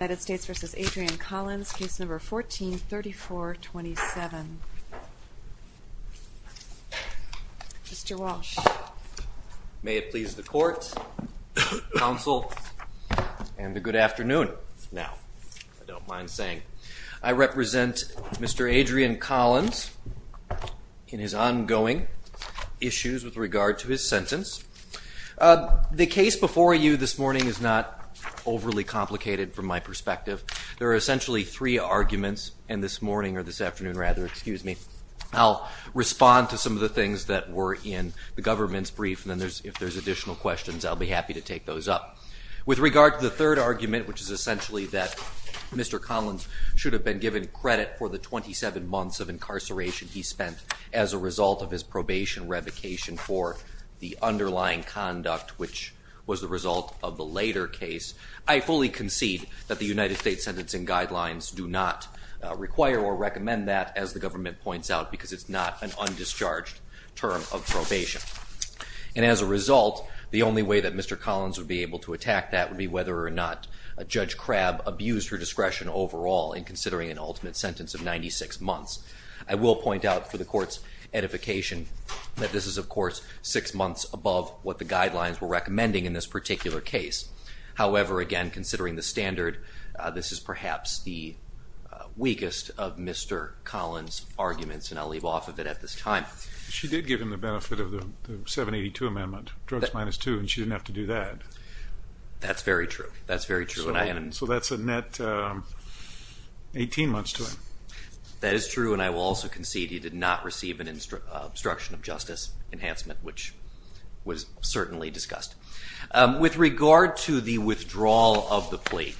case number 143427. Mr. Walsh. May it please the court, counsel, and the good afternoon. Now, I don't mind saying I represent Mr. Adrian Collins in his ongoing issues with regard to his sentence. The case before you this morning is not overly complicated from my perspective. There are essentially three arguments, and this morning or this afternoon, rather, excuse me, I'll respond to some of the things that were in the government's brief, and if there's additional questions, I'll be happy to take those up. With regard to the third argument, which is essentially that Mr. Collins should have been given credit for the 27 months of incarceration he spent as a result of his probation revocation for the underlying conduct, which was the result of the later case, I fully concede that the United States sentencing guidelines do not require or recommend that, as the government points out, because it's not an undischarged term of probation. And as a result, the only way that Mr. Collins would be able to attack that would be whether or not Judge Crabb abused her discretion overall in considering an ultimate sentence of 96 months. I will point out for the court's edification that this is, of course, six months above what the guidelines were recommending in this particular case. However, again, considering the standard, this is perhaps the weakest of Mr. Collins' arguments, and I'll leave off of it at this time. She did give him the benefit of the 782 amendment, drugs minus two, and she didn't have to do that. That's very true. That's very true. So that's a net 18 months to him. That is true, and I will also concede he did not receive an obstruction of justice enhancement, which was certainly discussed. With regard to the withdrawal of the plea,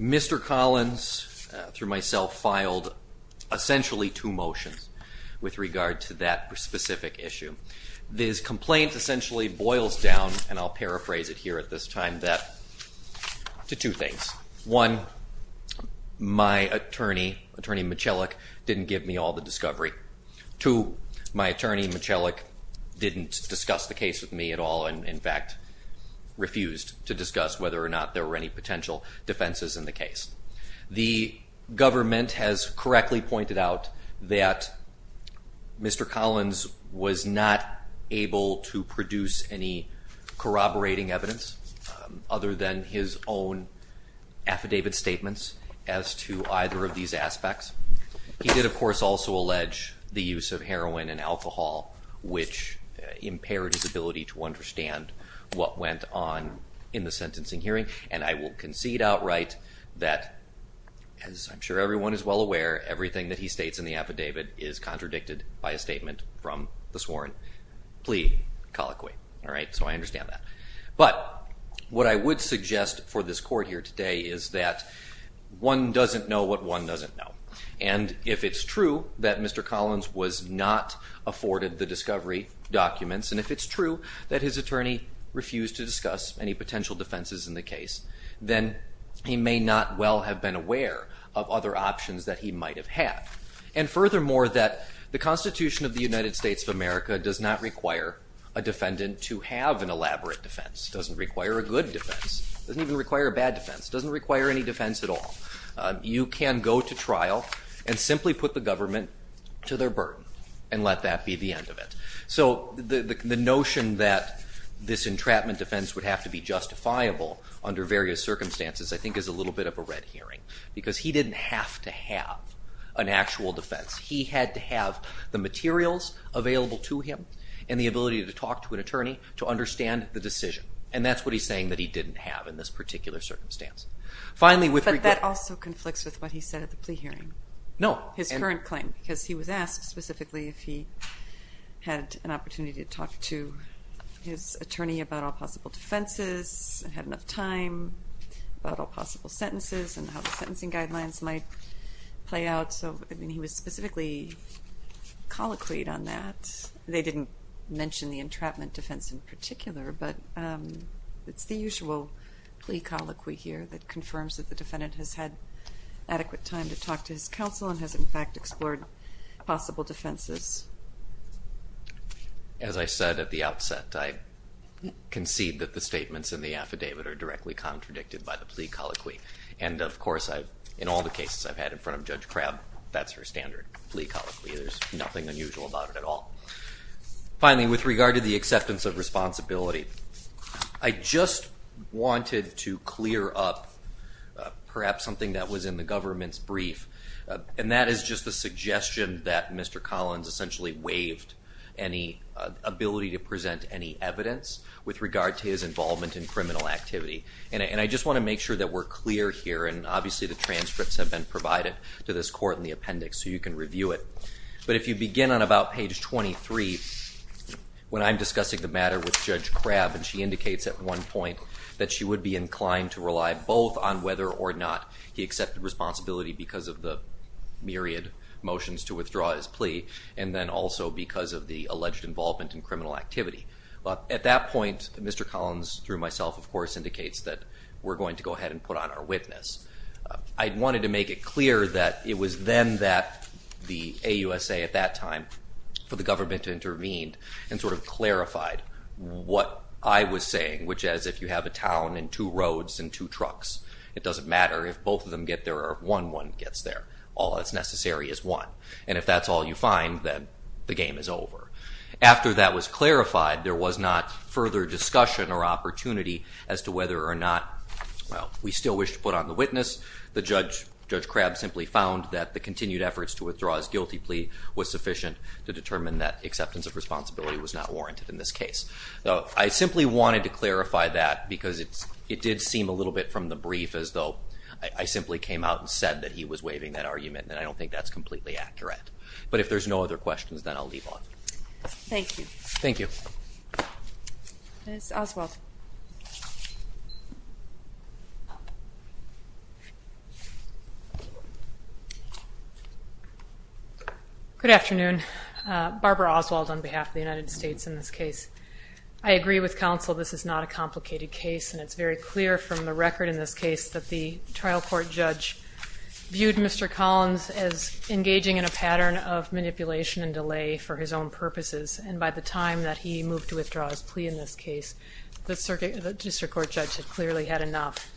Mr. Collins, through myself, filed essentially two motions with regard to that specific issue. This complaint essentially boils down, and I'll paraphrase it here at this time, to two my attorney, Attorney Michellic, didn't give me all the discovery. Two, my attorney Michellic didn't discuss the case with me at all and, in fact, refused to discuss whether or not there were any potential defenses in the case. The government has correctly pointed out that Mr. Collins was not able to produce any corroborating evidence other than his own affidavit statements as to either of these aspects. He did, of course, also allege the use of heroin and alcohol, which impaired his ability to understand what went on in the sentencing hearing, and I will concede outright that, as I'm sure everyone is well aware, everything that he states in the affidavit is contradicted by a statement from the sworn plea colloquy. All right, so I understand that. But what I would suggest for this court here today is that one doesn't know what one doesn't know. And if it's true that Mr. Collins was not afforded the discovery documents, and if it's true that his attorney refused to discuss any potential defenses in the case, then he may not well have been aware of other options that he might have had. And furthermore, that the Constitution of the United States of America does not require a defendant to have an elaborate defense. It doesn't require a good defense. It doesn't even require a bad defense. It doesn't require any defense at all. You can go to trial and simply put the government to their burden and let that be the end of it. So the notion that this entrapment defense would have to be justifiable under various circumstances, I think, is a little bit of a red herring, because he didn't have to have an actual defense. He had to have the materials available to him and the ability to talk to an attorney to understand the decision. And that's what he's saying that he didn't have in this particular circumstance. Finally, with regard... But that also conflicts with what he said at the plea hearing. No. His current claim, because he was asked specifically if he had an opportunity to talk to his attorney about all possible defenses, had enough time, about all possible sentences and how the sentencing guidelines might play out. So, I mean, he was specifically colloquied on that. They didn't mention the entrapment defense in particular, but it's the usual plea colloquy here that confirms that the defendant has had adequate time to talk to his counsel and has, in fact, explored possible defenses. As I said at the outset, I concede that the statements in the affidavit are directly contradicted by the plea colloquy. And, of course, in all the cases I've had in front of Judge Crabb, that's her standard plea colloquy. There's nothing unusual about it at all. Finally, with regard to the acceptance of responsibility, I just wanted to clear up perhaps something that was in the government's brief, and that is just the suggestion that Mr. Collins essentially waived any ability to present any evidence with regard to his plea. And I just want to make sure that we're clear here, and obviously the transcripts have been provided to this court in the appendix, so you can review it. But if you begin on about page 23, when I'm discussing the matter with Judge Crabb, and she indicates at one point that she would be inclined to rely both on whether or not he accepted responsibility because of the myriad motions to withdraw his plea, and then also because of the alleged involvement in criminal activity. At that point, Mr. Collins, through myself, of course, indicates that we're going to go ahead and put on our witness. I wanted to make it clear that it was then that the AUSA at that time, for the government to intervene, and sort of clarified what I was saying, which is if you have a town and two roads and two trucks, it doesn't matter if both of them get there or if one gets there. All that's necessary is one. And if that's all you find, then the game is over. After that was clarified, there was not further discussion or opportunity as to whether or not we still wish to put on the witness. Judge Crabb simply found that the continued efforts to withdraw his guilty plea was sufficient to determine that acceptance of responsibility was not warranted in this case. I simply wanted to clarify that because it did seem a little bit from the brief as though I simply came out and said that he was waiving that argument, and I don't think that's completely accurate. But if there's no other questions, then I'll leave off. Thank you. Thank you. Ms. Oswald. Good afternoon. Barbara Oswald on behalf of the United States in this case. I agree with counsel this is not a complicated case, and it's very clear from the record in this case that the trial court judge viewed Mr. Collins as engaging in a pattern of manipulation and delay for his own purposes, and by the time that he moved to withdraw his plea in this case, the district court judge had clearly had enough.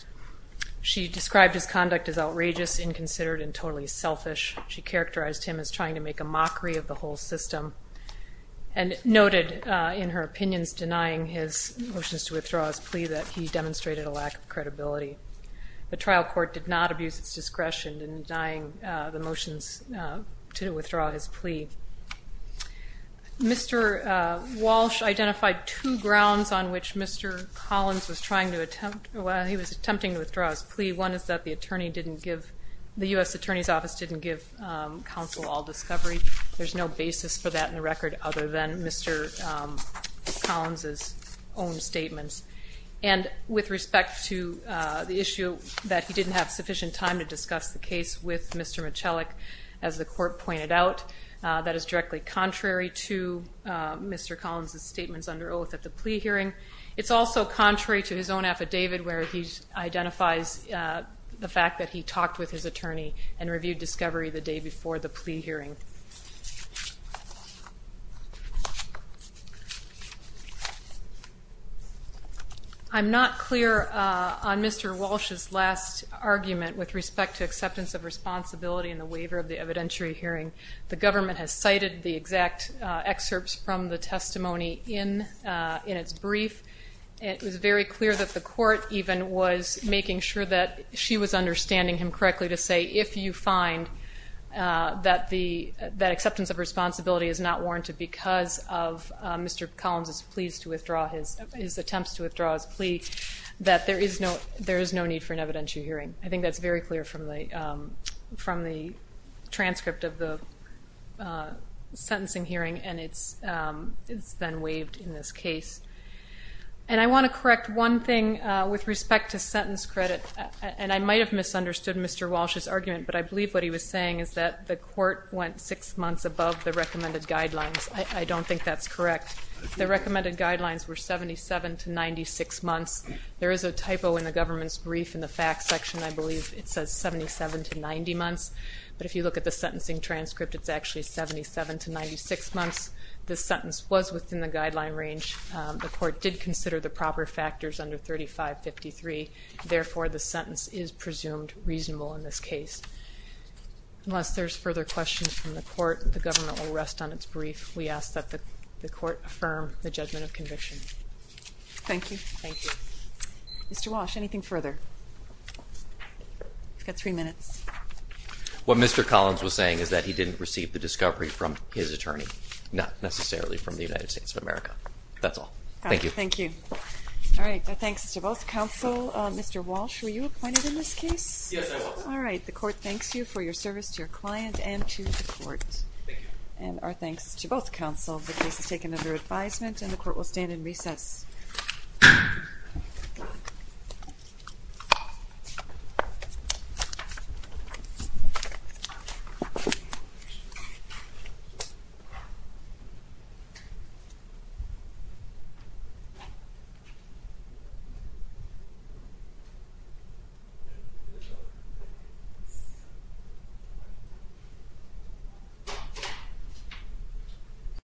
She described his conduct as outrageous, inconsiderate, and totally selfish. She characterized him as trying to make a mockery of the whole system and noted in her opinions denying his motions to withdraw his plea that he demonstrated a lack of credibility. The trial court did not abuse its discretion in denying the motions to withdraw his plea. Mr. Walsh identified two grounds on which Mr. Collins was trying to attempt while he was attempting to withdraw his plea. One is that the U.S. Attorney's Office didn't give counsel all discovery. There's no basis for that in the record other than Mr. Collins' own statements. And with respect to the issue that he didn't have sufficient time to discuss the case with Mr. Michelek, as the court pointed out, that is directly contrary to Mr. Collins' statements under oath at the plea hearing. It's also contrary to his own affidavit where he identifies the fact that he talked with his attorney and reviewed discovery the day before the plea hearing. I'm not clear on Mr. Walsh's last argument with respect to acceptance of responsibility in the waiver of the evidentiary hearing. The government has cited the exact excerpts from the testimony in its brief. It was very clear that the court even was making sure that she was understanding him correctly to say, if you find that acceptance of responsibility is not warranted because of Mr. Collins' plea, his attempts to withdraw his plea, that there is no need for an evidentiary hearing. I think that's very clear from the transcript of the sentencing hearing, and it's been waived in this case. And I want to correct one thing with respect to sentence credit, and I might have misunderstood Mr. Walsh's argument, but I believe what he was saying is that the court went six months above the recommended guidelines. I don't think that's correct. The recommended guidelines were 77 to 96 months. There is a typo in the government's brief in the facts section. I believe it says 77 to 90 months. But if you look at the sentencing transcript, it's actually 77 to 96 months. The sentence was within the guideline range. The court did consider the proper factors under 3553. Therefore, the sentence is presumed reasonable in this case. Unless there's further questions from the court, the government will rest on its brief. We ask that the court affirm the judgment of conviction. Thank you. Thank you. Mr. Walsh, anything further? You've got three minutes. What Mr. Collins was saying is that he didn't receive the discovery from his attorney, not necessarily from the United States of America. That's all. Thank you. Thank you. All right. Our thanks to both counsel. Mr. Walsh, were you appointed in this case? Yes, I was. All right. The court thanks you for your service to your client and to the court. Thank you. And our thanks to both counsel. The case is taken under advisement, and the court will stand in recess.